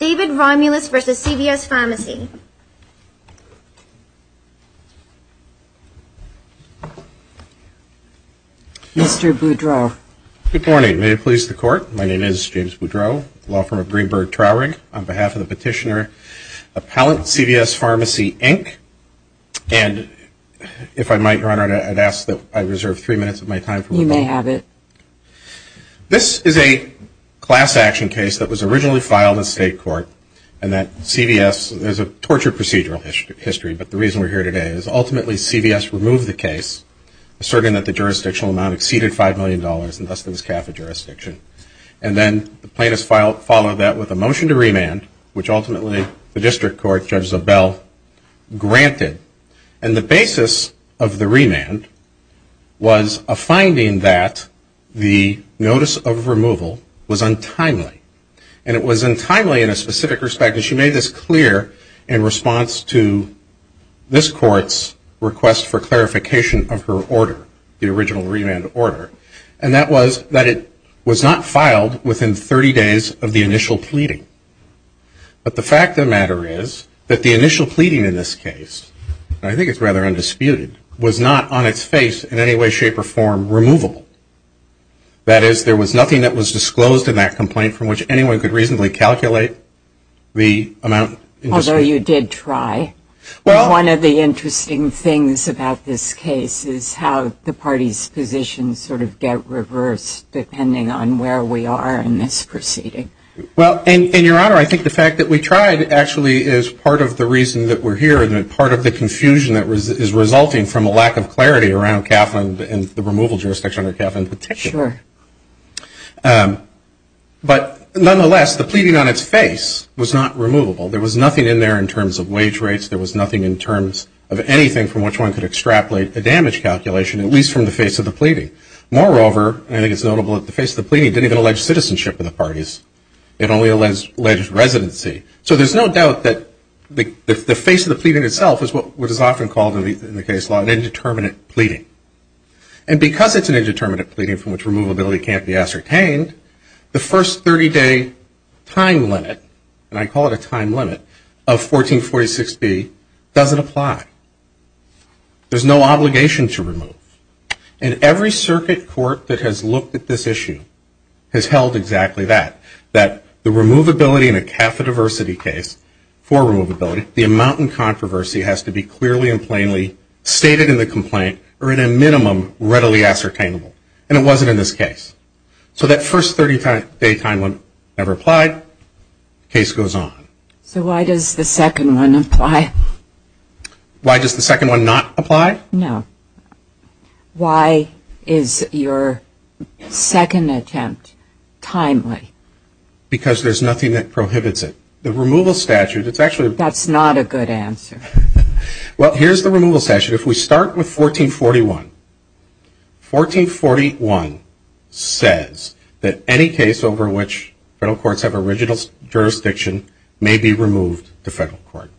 David Romulus v. CVS Pharmacy. Mr. Boudreaux. Good morning. May it please the Court, my name is James Boudreaux, law firm of Greenberg Traurig, on behalf of the petitioner Appellant CVS Pharmacy, Inc., and if I might, Your Honor, I'd ask that I reserve three minutes of my time for review. You may have it. This is a class action case that was originally filed in state court, and that CVS, there's a tortured procedural history, but the reason we're here today is ultimately CVS removed the case, asserting that the jurisdictional amount exceeded $5 million, and thus there was cap of jurisdiction. And then the plaintiffs followed that with a motion to remand, which ultimately the district court, Judge Zobel, granted. And the basis of the remand was a finding that the notice of removal was untimely. And it was untimely in a specific respect, and she made this clear in response to this court's request for clarification of her order, the original remand order. And that was that it was not filed within 30 days of the initial pleading. But the fact of the matter is that the initial pleading in this case, and I think it's rather undisputed, was not on its face in any way, shape, or form removable. That is, there was nothing that was disclosed in that complaint from which anyone could reasonably calculate the amount. Although you did try. One of the interesting things about this case is how the party's positions sort of get reversed, depending on where we are in this proceeding. Well, and, Your Honor, I think the fact that we tried actually is part of the reason that we're here and part of the confusion that is resulting from a lack of clarity around Kaplan and the removal jurisdiction under Kaplan's protection. Sure. But nonetheless, the pleading on its face was not removable. There was nothing in there in terms of wage rates. There was nothing in terms of anything from which one could extrapolate a damage calculation, at least from the face of the pleading. Moreover, I think it's notable that the face of the pleading didn't even allege citizenship in the parties. It only alleged residency. So there's no doubt that the face of the pleading itself is what is often called in the case law an indeterminate pleading. And because it's an indeterminate pleading from which removability can't be ascertained, the first 30-day time limit, and I call it a time limit, of 1446B doesn't apply. There's no obligation to remove. And every circuit court that has looked at this issue has held exactly that, that the removability in a CAFA diversity case for removability, the amount in controversy has to be clearly and plainly stated in the complaint or in a minimum readily ascertainable. And it wasn't in this case. So that first 30-day time limit never applied. Case goes on. So why does the second one apply? Why does the second one not apply? No. Why is your second attempt timely? Because there's nothing that prohibits it. The removal statute, it's actually a... That's not a good answer. Well, here's the removal statute. If we start with 1441, 1441 says that any case over which federal courts have original jurisdiction may be removed to federal court.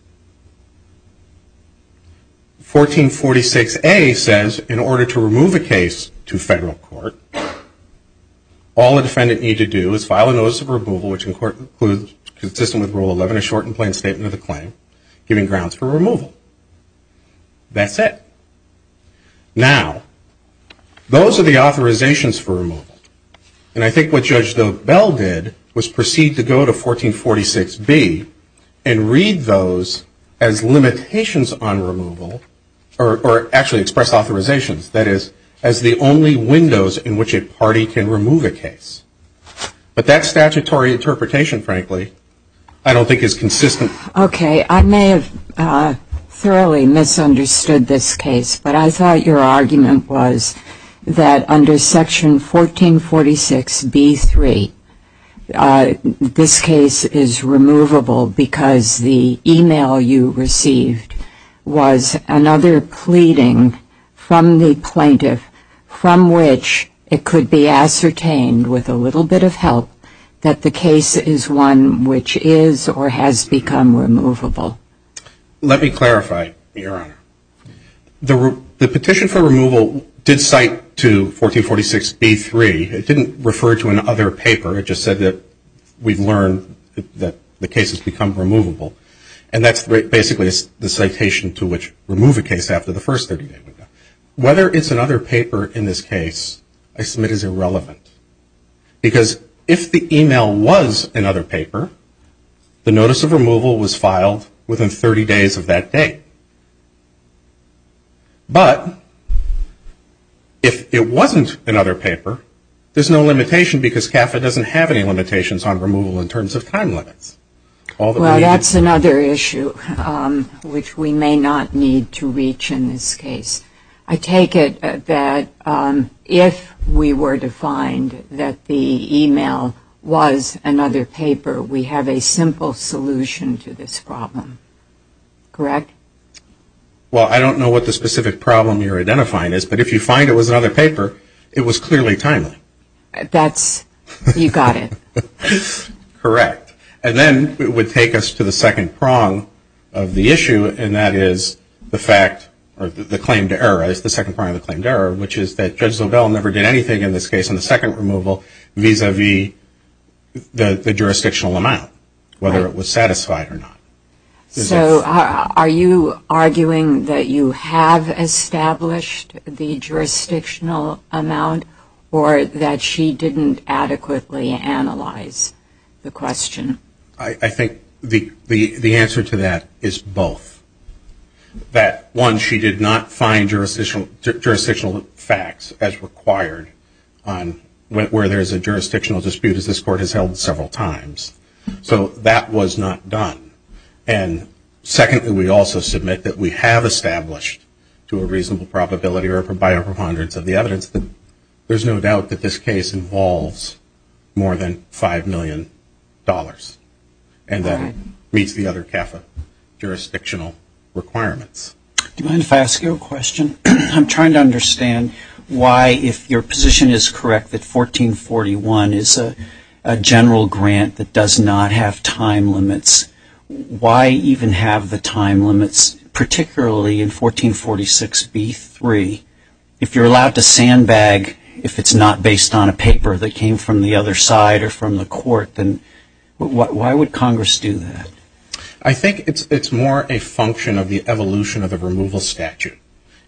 1446A says in order to remove a case to federal court, all a defendant need to do is file a notice of removal, which in court includes consistent with Rule 11, a shortened plain statement of the claim, giving grounds for removal. That's it. Now, those are the authorizations for removal. And I think what Judge Bell did was proceed to go to 1446B and read those as limitations on removal, or actually express authorizations, that is, as the only windows in which a party can remove a case. But that statutory interpretation, frankly, I don't think is consistent. Okay. I may have thoroughly misunderstood this case, but I thought your argument was that under Section 1446B3, this case is removable because the e-mail you received was another pleading from the plaintiff from which it could be ascertained, with a little bit of help, that the case is one which is or has become removable. Let me clarify, Your Honor. The petition for removal did cite to 1446B3. It didn't refer to another paper. It just said that we've learned that the case has become removable. And that's basically the citation to which remove a case after the first 30 days. Whether it's another paper in this case, I submit, is irrelevant. Because if the e-mail was another paper, the notice of removal was filed within 30 days of that date. But if it wasn't another paper, there's no limitation because CAFA doesn't have any limitations on removal in terms of time limits. Well, that's another issue which we may not need to reach in this case. I take it that if we were to find that the e-mail was another paper, we have a simple solution to this problem. Correct? Well, I don't know what the specific problem you're identifying is. But if you find it was another paper, it was clearly timely. That's you got it. Correct. And then it would take us to the second prong of the issue, and that is the fact or the claimed error, the second prong of the claimed error, which is that Judge Zobel never did anything in this case in the second removal vis-a-vis the jurisdictional amount, whether it was satisfied or not. So are you arguing that you have established the jurisdictional amount or that she didn't adequately analyze the question? I think the answer to that is both, that one, she did not find jurisdictional facts as required where there's a jurisdictional dispute as this Court has held several times. So that was not done. And secondly, we also submit that we have established to a reasonable probability or by our preponderance of the evidence that there's no doubt that this case involves more than $5 million. And that meets the other half of jurisdictional requirements. Do you mind if I ask you a question? I'm trying to understand why, if your position is correct, that 1441 is a general grant that does not have time limits. Why even have the time limits, particularly in 1446b-3? If you're allowed to sandbag if it's not based on a paper that came from the other side or from the Court, then why would Congress do that? I think it's more a function of the evolution of the removal statute.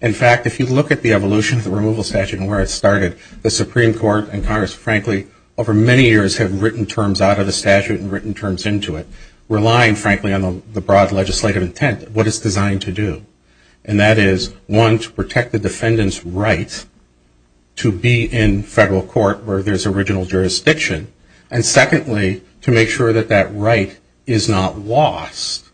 In fact, if you look at the evolution of the removal statute and where it started, the Supreme Court and Congress, frankly, over many years have written terms out of the statute and written terms into it, relying, frankly, on the broad legislative intent of what it's designed to do. And that is, one, to protect the defendant's right to be in federal court where there's original jurisdiction, and secondly, to make sure that that right is not lost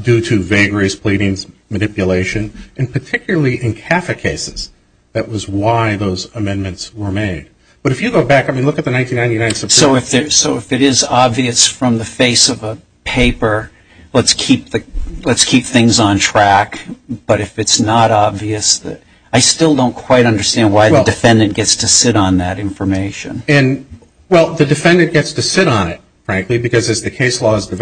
due to vagaries, pleadings, manipulation, and particularly in CAFA cases. That was why those amendments were made. But if you go back, I mean, look at the 1999 Supreme Court. So if it is obvious from the face of a paper, let's keep things on track. But if it's not obvious, I still don't quite understand why the defendant gets to sit on that information. Well, the defendant gets to sit on it, frankly, because as the case law is have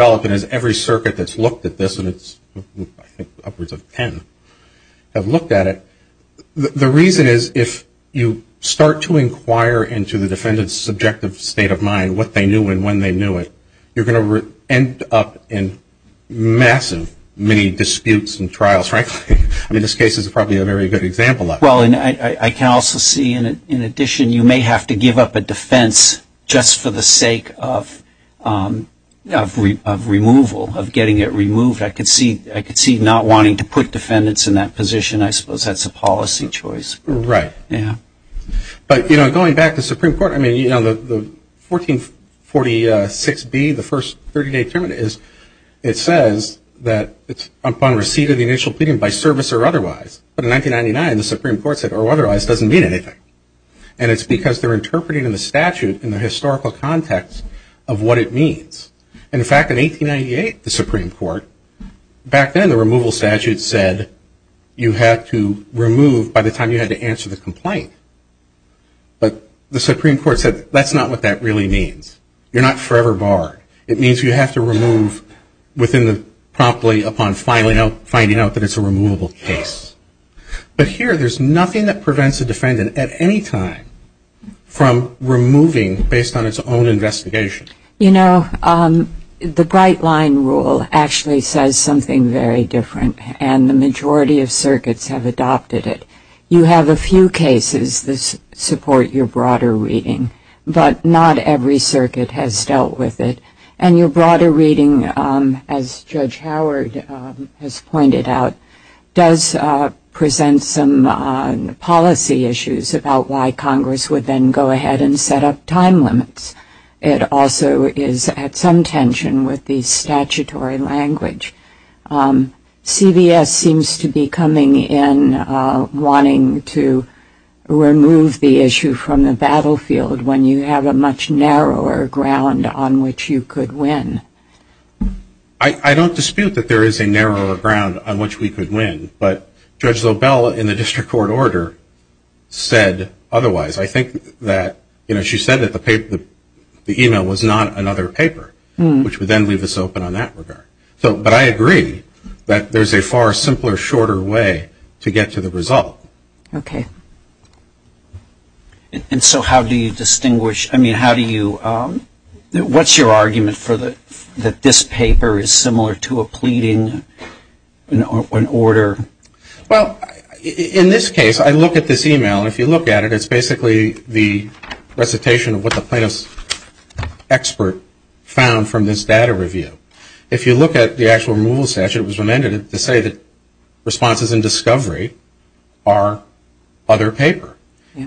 looked at it, the reason is if you start to inquire into the defendant's subjective state of mind, what they knew and when they knew it, you're going to end up in massive, many disputes and trials, frankly. I mean, this case is probably a very good example of it. Well, and I can also see, in addition, you may have to give up a defense just for the sake of removal, of getting it removed. I could see not wanting to put defendants in that position. I suppose that's a policy choice. Right. Yeah. But, you know, going back to the Supreme Court, I mean, you know, the 1446B, the first 30-day term, it says that it's upon receipt of the initial pleading by service or otherwise. But in 1999, the Supreme Court said or otherwise doesn't mean anything. And it's because they're interpreting in the statute, in the historical context, of what it means. In fact, in 1898, the Supreme Court, back then the removal statute said you had to remove by the time you had to answer the complaint. But the Supreme Court said that's not what that really means. You're not forever barred. It means you have to remove within the promptly upon finding out that it's a removable case. But here, there's nothing that prevents a defendant at any time from removing based on its own investigation. You know, the Bright Line Rule actually says something very different, and the majority of circuits have adopted it. You have a few cases that support your broader reading, but not every circuit has dealt with it. And your broader reading, as Judge Howard has pointed out, does present some policy issues about why Congress would then go ahead and set up time limits. It also is at some tension with the statutory language. CVS seems to be coming in wanting to remove the issue from the battlefield when you have a much narrower ground on which you could win. I don't dispute that there is a narrower ground on which we could win, but Judge Lobel, in the district court order, said otherwise. I think that, you know, she said that the email was not another paper, which would then leave us open on that regard. But I agree that there's a far simpler, shorter way to get to the result. Okay. And so how do you distinguish, I mean, how do you, what's your argument that this paper is similar to a pleading, an order? Well, in this case, I look at this email, and if you look at it, it's basically the recitation of what the plaintiff's expert found from this data review. If you look at the actual removal statute, it was amended to say that responses in discovery are other paper.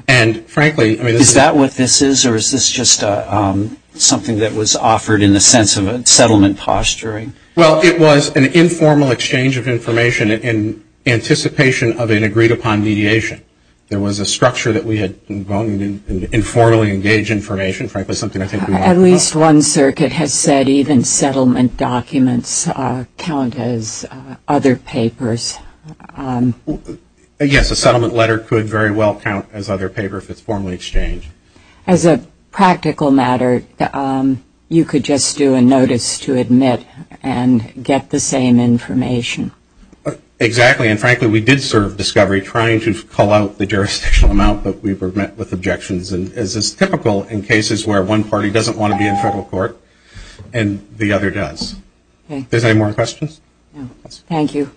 And, frankly, I mean this is. Is that what this is, or is this just something that was offered in the sense of a settlement posturing? Well, it was an informal exchange of information in anticipation of an agreed-upon mediation. There was a structure that we had gone and informally engaged information, frankly something I think we want to talk about. At least one circuit has said even settlement documents count as other papers. Yes, a settlement letter could very well count as other paper if it's formally exchanged. As a practical matter, you could just do a notice to admit and get the same information. Exactly. And, frankly, we did serve discovery trying to call out the jurisdictional amount that we were met with objections, as is typical in cases where one party doesn't want to be in federal court and the other does. Are there any more questions? No. Thank you.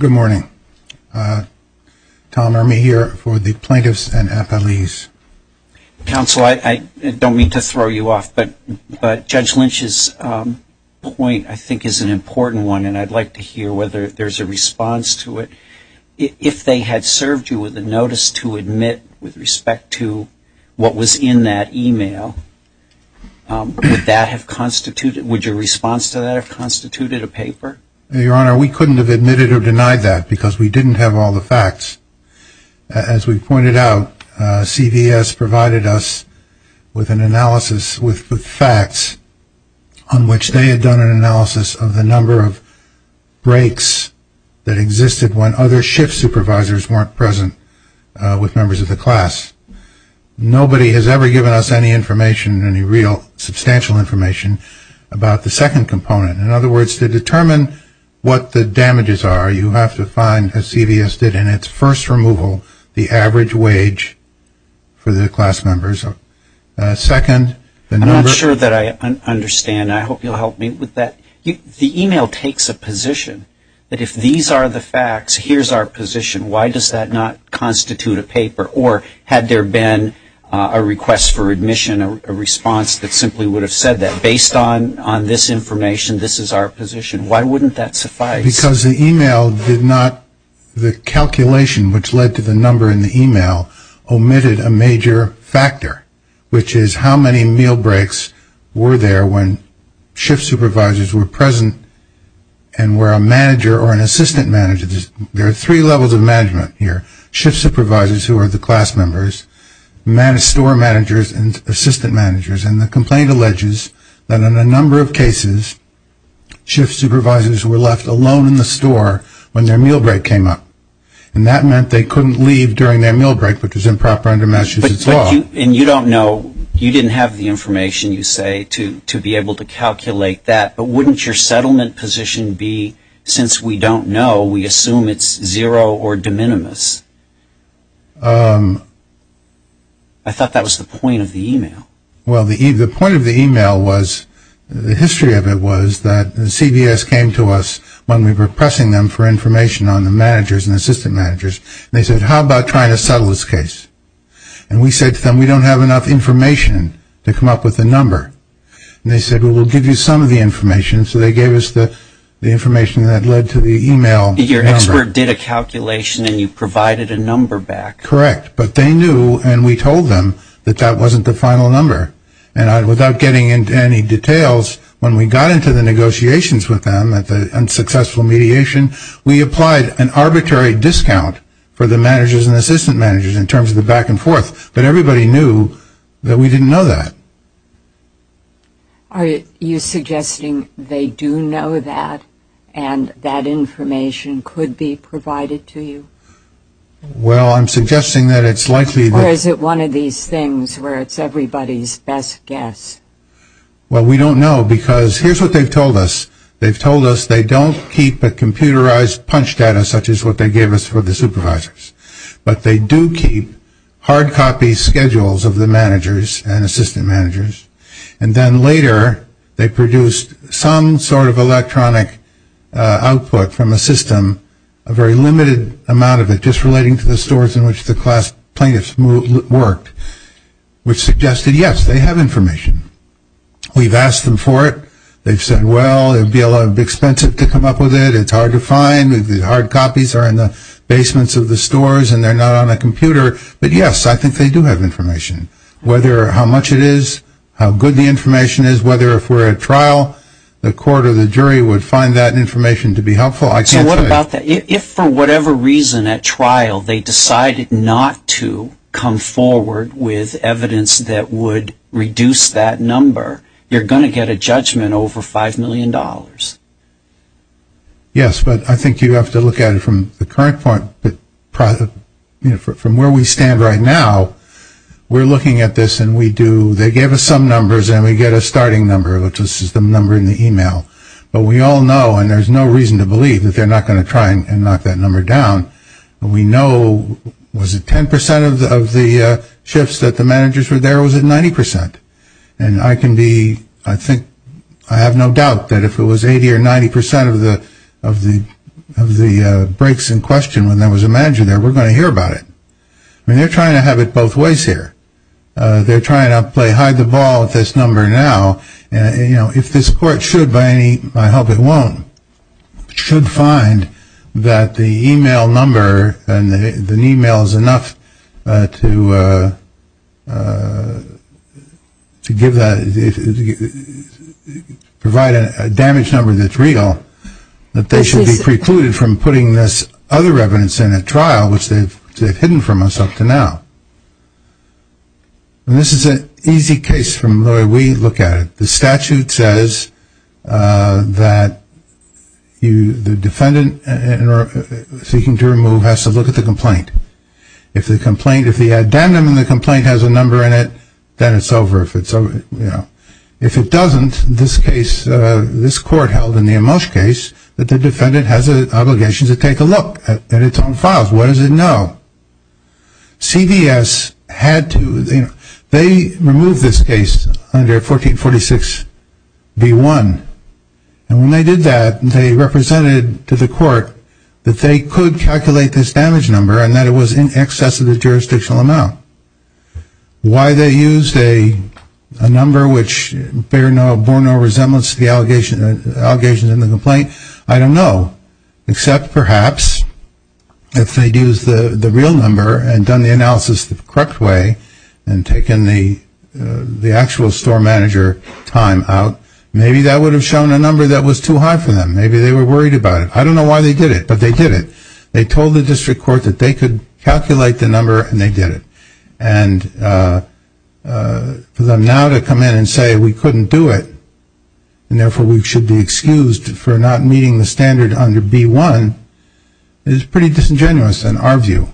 Good morning. Tom Ermey here for the Plaintiffs and Appellees. Counsel, I don't mean to throw you off, but Judge Lynch's point I think is an important one, and I'd like to hear whether there's a response to it. If they had served you with a notice to admit with respect to what was in that e-mail, would your response to that have constituted a paper? Your Honor, we couldn't have admitted or denied that because we didn't have all the facts. As we pointed out, CVS provided us with an analysis with facts on which they had done an analysis of the number of breaks that existed when other shift supervisors weren't present with members of the class. Nobody has ever given us any information, any real substantial information, about the second component. In other words, to determine what the damages are, you have to find, as CVS did in its first removal, the average wage for the class members. I'm not sure that I understand. I hope you'll help me with that. The e-mail takes a position that if these are the facts, here's our position, why does that not constitute a paper? Or had there been a request for admission, a response that simply would have said that, on this information, this is our position, why wouldn't that suffice? Because the e-mail did not, the calculation which led to the number in the e-mail, omitted a major factor, which is how many meal breaks were there when shift supervisors were present and where a manager or an assistant manager, there are three levels of management here, shift supervisors who are the class members, store managers, and assistant managers. And the complaint alleges that in a number of cases, shift supervisors were left alone in the store when their meal break came up. And that meant they couldn't leave during their meal break, which is improper under Massachusetts law. And you don't know, you didn't have the information, you say, to be able to calculate that. But wouldn't your settlement position be, since we don't know, we assume it's zero or de minimis? I thought that was the point of the e-mail. Well, the point of the e-mail was, the history of it was that the CVS came to us when we were pressing them for information on the managers and assistant managers. They said, how about trying to settle this case? And we said to them, we don't have enough information to come up with a number. And they said, well, we'll give you some of the information. So they gave us the information that led to the e-mail number. Your expert did a calculation and you provided a number back. Correct. But they knew and we told them that that wasn't the final number. And without getting into any details, when we got into the negotiations with them and successful mediation, we applied an arbitrary discount for the managers and assistant managers in terms of the back and forth. But everybody knew that we didn't know that. Are you suggesting they do know that and that information could be provided to you? Well, I'm suggesting that it's likely that. Or is it one of these things where it's everybody's best guess? Well, we don't know because here's what they've told us. They've told us they don't keep a computerized punch data, such as what they gave us for the supervisors. But they do keep hard copy schedules of the managers and assistant managers. And then later, they produced some sort of electronic output from the system, a very limited amount of it, just relating to the stores in which the class plaintiffs worked, which suggested, yes, they have information. We've asked them for it. They've said, well, it would be a little expensive to come up with it. It's hard to find. The hard copies are in the basements of the stores and they're not on a computer. But, yes, I think they do have information, whether how much it is, how good the information is, whether if we're at trial, the court or the jury would find that information to be helpful. So what about that? If, for whatever reason, at trial, they decided not to come forward with evidence that would reduce that number, you're going to get a judgment over $5 million. Yes, but I think you have to look at it from the current point. From where we stand right now, we're looking at this and we do. They gave us some numbers and we get a starting number, which is the number in the email. But we all know, and there's no reason to believe, that they're not going to try and knock that number down. We know, was it 10% of the shifts that the managers were there or was it 90%? And I can be, I think, I have no doubt that if it was 80% or 90% of the breaks in question when there was a manager there, we're going to hear about it. I mean, they're trying to have it both ways here. They're trying to play hide the ball with this number now. If this court should, by any, I hope it won't, should find that the email number and the email is enough to give that, provide a damage number that's real, that they should be precluded from putting this other evidence in at trial, which they've hidden from us up to now. And this is an easy case from the way we look at it. The statute says that the defendant seeking to remove has to look at the complaint. If the complaint, if the addendum in the complaint has a number in it, then it's over. If it doesn't, this case, this court held in the Amos case, that the defendant has an obligation to take a look at its own files. What does it know? CVS had to, they removed this case under 1446B1. And when they did that, they represented to the court that they could calculate this damage number and that it was in excess of the jurisdictional amount. Why they used a number which bore no resemblance to the allegations in the complaint, I don't know. Except perhaps if they'd used the real number and done the analysis the correct way and taken the actual store manager time out, maybe that would have shown a number that was too high for them. Maybe they were worried about it. I don't know why they did it, but they did it. They told the district court that they could calculate the number, and they did it. And for them now to come in and say we couldn't do it, and therefore we should be excused for not meeting the standard under B1, is pretty disingenuous in our view.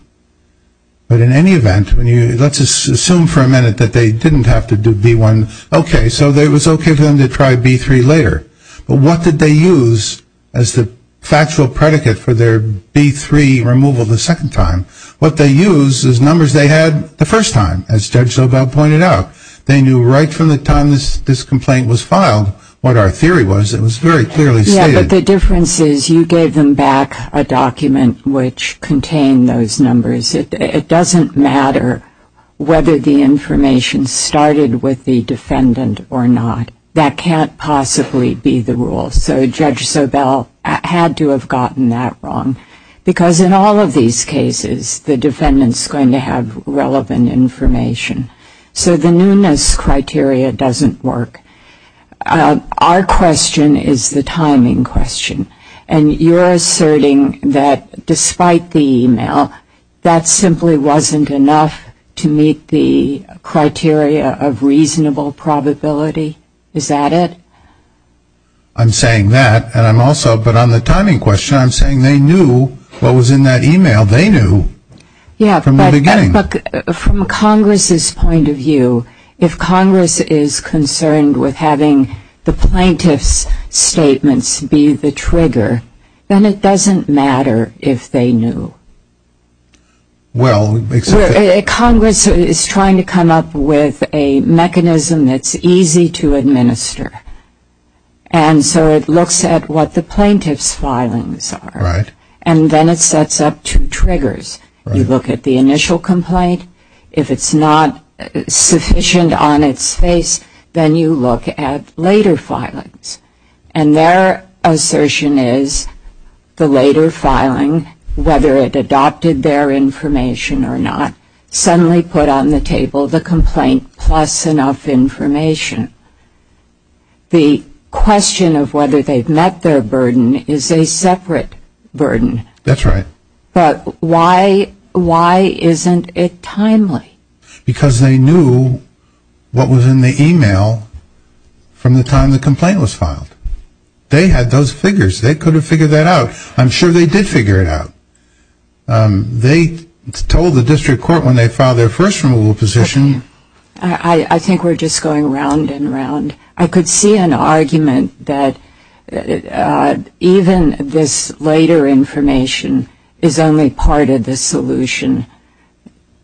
But in any event, let's assume for a minute that they didn't have to do B1. Okay, so it was okay for them to try B3 later. But what did they use as the factual predicate for their B3 removal the second time? What they used is numbers they had the first time, as Judge Sobel pointed out. They knew right from the time this complaint was filed what our theory was. It was very clearly stated. Yeah, but the difference is you gave them back a document which contained those numbers. It doesn't matter whether the information started with the defendant or not. That can't possibly be the rule. So Judge Sobel had to have gotten that wrong, because in all of these cases the defendant is going to have relevant information. So the newness criteria doesn't work. Our question is the timing question. And you're asserting that despite the email, that simply wasn't enough to meet the criteria of reasonable probability. Is that it? I'm saying that, and I'm also, but on the timing question, I'm saying they knew what was in that email. They knew from the beginning. But from Congress's point of view, if Congress is concerned with having the plaintiff's statements be the trigger, then it doesn't matter if they knew. Well, it makes sense. Congress is trying to come up with a mechanism that's easy to administer. And so it looks at what the plaintiff's filings are. And then it sets up two triggers. You look at the initial complaint. If it's not sufficient on its face, then you look at later filings. And their assertion is the later filing, whether it adopted their information or not, suddenly put on the table the complaint plus enough information. The question of whether they've met their burden is a separate burden. That's right. But why isn't it timely? Because they knew what was in the email from the time the complaint was filed. They had those figures. They could have figured that out. I'm sure they did figure it out. They told the district court when they filed their first removal position. I think we're just going round and round. I could see an argument that even this later information is only part of the solution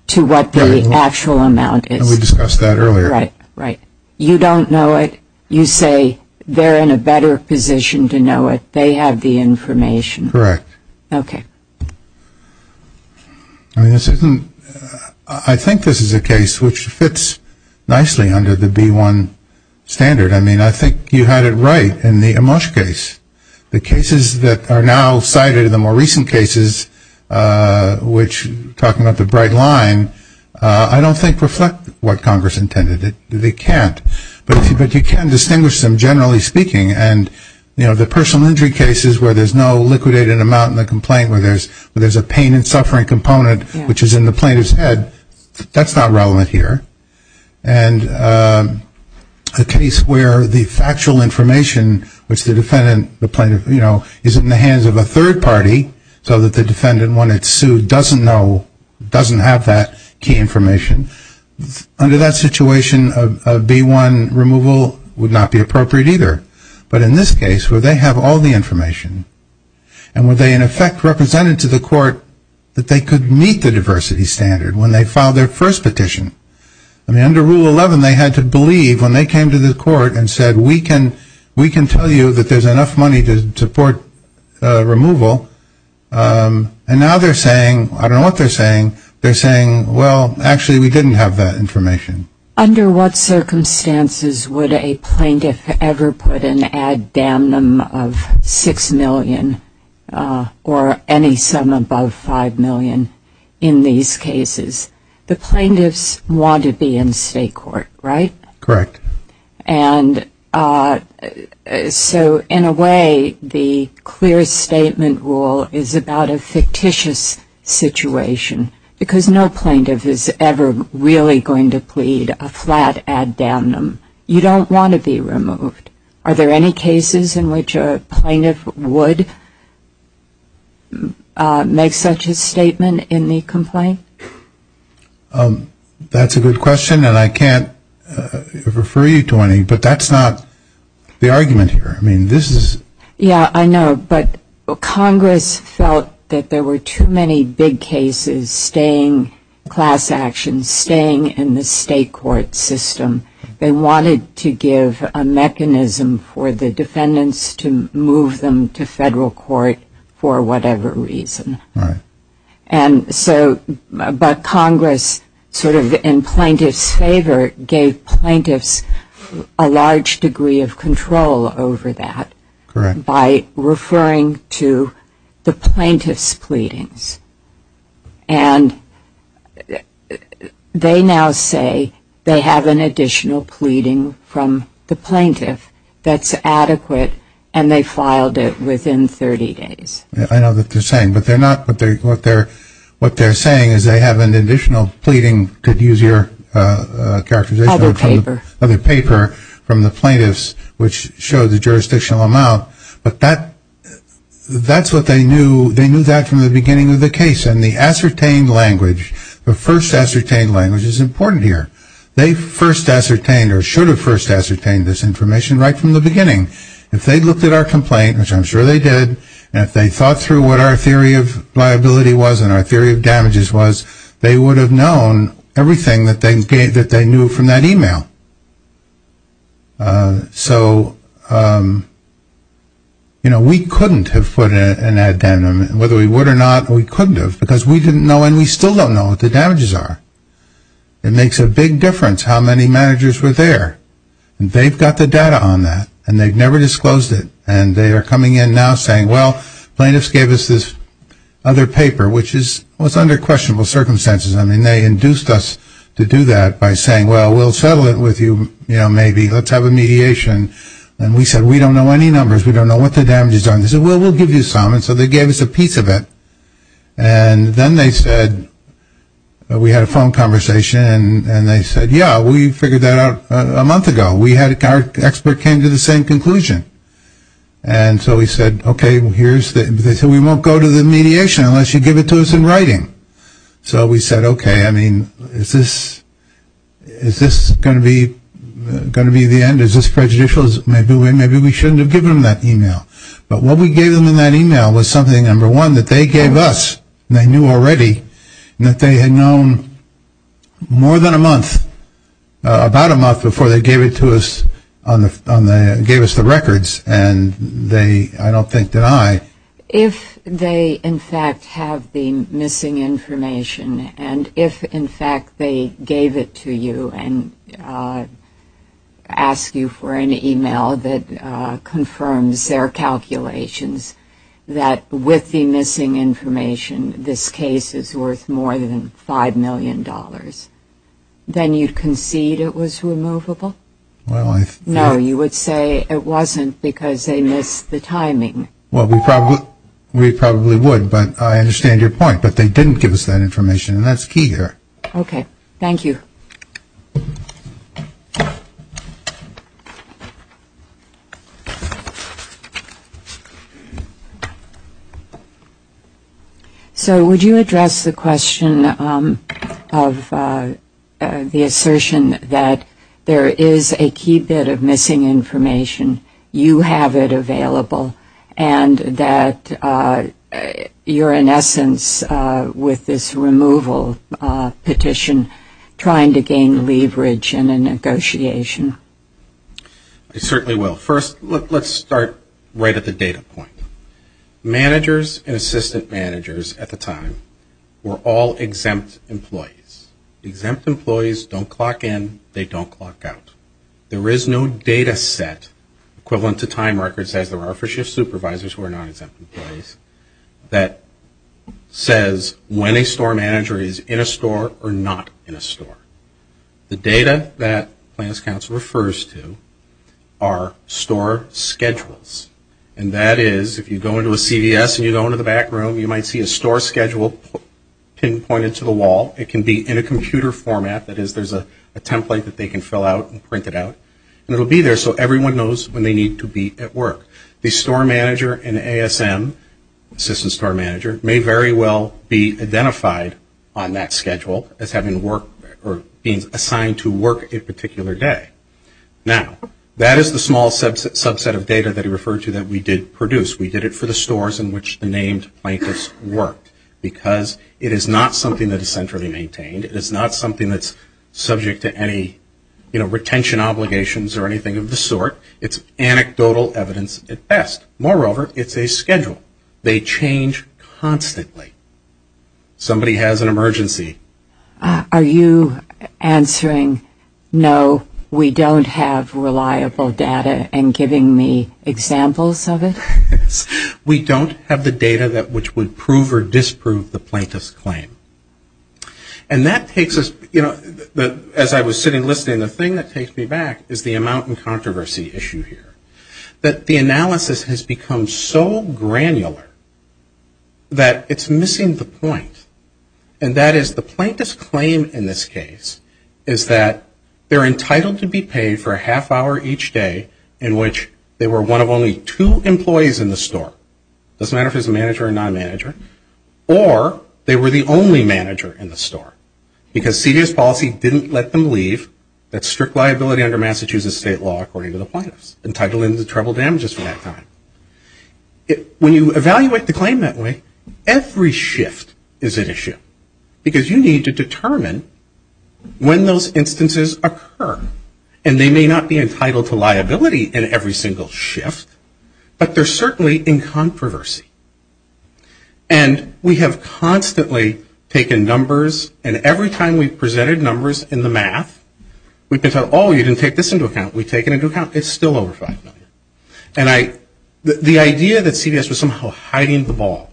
to what the actual amount is. We discussed that earlier. Right. You don't know it. You say they're in a better position to know it. They have the information. Correct. Okay. I think this is a case which fits nicely under the B1 standard. I mean, I think you had it right in the Amash case. The cases that are now cited are the more recent cases, which, talking about the bright line, I don't think reflect what Congress intended. They can't. But you can distinguish them, generally speaking. And, you know, the personal injury cases where there's no liquidated amount in the complaint, where there's a pain and suffering component, which is in the plaintiff's head, that's not relevant here. And a case where the factual information, which the defendant, the plaintiff, you know, is in the hands of a third party so that the defendant, when it's sued, doesn't know, doesn't have that key information. Under that situation, a B1 removal would not be appropriate either. But in this case, where they have all the information, and where they, in effect, represented to the court that they could meet the diversity standard when they filed their first petition. I mean, under Rule 11, they had to believe when they came to the court and said, we can tell you that there's enough money to support removal. And now they're saying, I don't know what they're saying, they're saying, well, actually we didn't have that information. Under what circumstances would a plaintiff ever put an ad damnum of $6 million, or any sum above $5 million in these cases? The plaintiffs want to be in state court, right? Correct. And so, in a way, the clear statement rule is about a fictitious situation. Because no plaintiff is ever really going to plead a flat ad damnum. You don't want to be removed. Are there any cases in which a plaintiff would make such a statement in the complaint? That's a good question, and I can't refer you to any, but that's not the argument here. I mean, this is ‑‑ Yeah, I know, but Congress felt that there were too many big cases, staying class action, staying in the state court system. They wanted to give a mechanism for the defendants to move them to federal court for whatever reason. Right. And so, but Congress, sort of in plaintiff's favor, gave plaintiffs a large degree of control over that. Correct. By referring to the plaintiff's pleadings. And they now say they have an additional pleading from the plaintiff that's adequate, and they filed it within 30 days. I know what they're saying, but they're not ‑‑ what they're saying is they have an additional pleading, could use your characterization. Other paper. Other paper from the plaintiffs, which showed the jurisdictional amount. But that's what they knew. They knew that from the beginning of the case. And the ascertained language, the first ascertained language is important here. They first ascertained or should have first ascertained this information right from the beginning. If they looked at our complaint, which I'm sure they did, and if they thought through what our theory of liability was and our theory of damages was, they would have known everything that they knew from that email. So, you know, we couldn't have put an addendum. Whether we would or not, we couldn't have, because we didn't know and we still don't know what the damages are. It makes a big difference how many managers were there. They've got the data on that, and they've never disclosed it. And they are coming in now saying, well, plaintiffs gave us this other paper, which was under questionable circumstances. I mean, they induced us to do that by saying, well, we'll settle it with you, you know, maybe, let's have a mediation. And we said, we don't know any numbers. We don't know what the damages are. They said, well, we'll give you some. And so they gave us a piece of it. And then they said, we had a phone conversation, and they said, yeah, we figured that out a month ago. Our expert came to the same conclusion. And so we said, okay, we won't go to the mediation unless you give it to us in writing. So we said, okay, I mean, is this going to be the end? Is this prejudicial? Maybe we shouldn't have given them that email. But what we gave them in that email was something, number one, that they gave us, and they knew already, and that they had known more than a month, about a month before they gave it to us, gave us the records. And they, I don't think, deny. If they, in fact, have the missing information, and if, in fact, they gave it to you and asked you for an email that confirms their calculations, that with the missing information this case is worth more than $5 million, then you'd concede it was removable? No, you would say it wasn't because they missed the timing. Well, we probably would, but I understand your point. But they didn't give us that information, and that's key here. Okay. Thank you. So would you address the question of the assertion that there is a key bit of missing information, you have it available, and that you're, in essence, with this removal petition trying to gain leverage in a negotiation? I certainly will. First, let's start right at the data point. Managers and assistant managers at the time were all exempt employees. Exempt employees don't clock in, they don't clock out. There is no data set equivalent to time records, as there are for shift supervisors who are non-exempt employees, that says when a store manager is in a store or not in a store. The data that Plans Council refers to are store schedules, and that is if you go into a CVS and you go into the back room, you might see a store schedule pinpointed to the wall. It can be in a computer format, that is there's a template that they can fill out and print it out, and it will be there so everyone knows when they need to be at work. The store manager and ASM, assistant store manager, may very well be identified on that schedule as having work or being assigned to work a particular day. Now, that is the small subset of data that he referred to that we did produce. We did it for the stores in which the named plaintiffs worked, because it is not something that is centrally maintained. It is not something that's subject to any, you know, retention obligations or anything of the sort. It's anecdotal evidence at best. Moreover, it's a schedule. They change constantly. Somebody has an emergency. Are you answering no, we don't have reliable data, and giving me examples of it? We don't have the data which would prove or disprove the plaintiff's claim. And that takes us, you know, as I was sitting listening, the thing that takes me back is the amount and controversy issue here. That the analysis has become so granular that it's missing the point. And that is the plaintiff's claim in this case is that they're entitled to be paid for a half hour each day in which they were one of only two employees in the store. It doesn't matter if it was a manager or non-manager. Or they were the only manager in the store, because CDS policy didn't let them leave. That's strict liability under Massachusetts state law according to the plaintiffs. Entitled in the terrible damages for that time. When you evaluate the claim that way, every shift is an issue. Because you need to determine when those instances occur. And they may not be entitled to liability in every single shift, but they're certainly in controversy. And we have constantly taken numbers, and every time we've presented numbers in the math, we've been told, oh, you didn't take this into account. We take it into account. It's still over $5 million. And the idea that CDS was somehow hiding the ball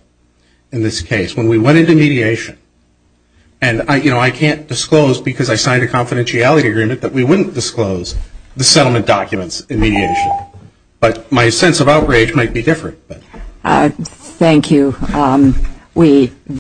in this case, when we went into mediation, and, you know, I can't disclose because I signed a confidentiality agreement that we wouldn't disclose the settlement documents in mediation. But my sense of outrage might be different. Thank you.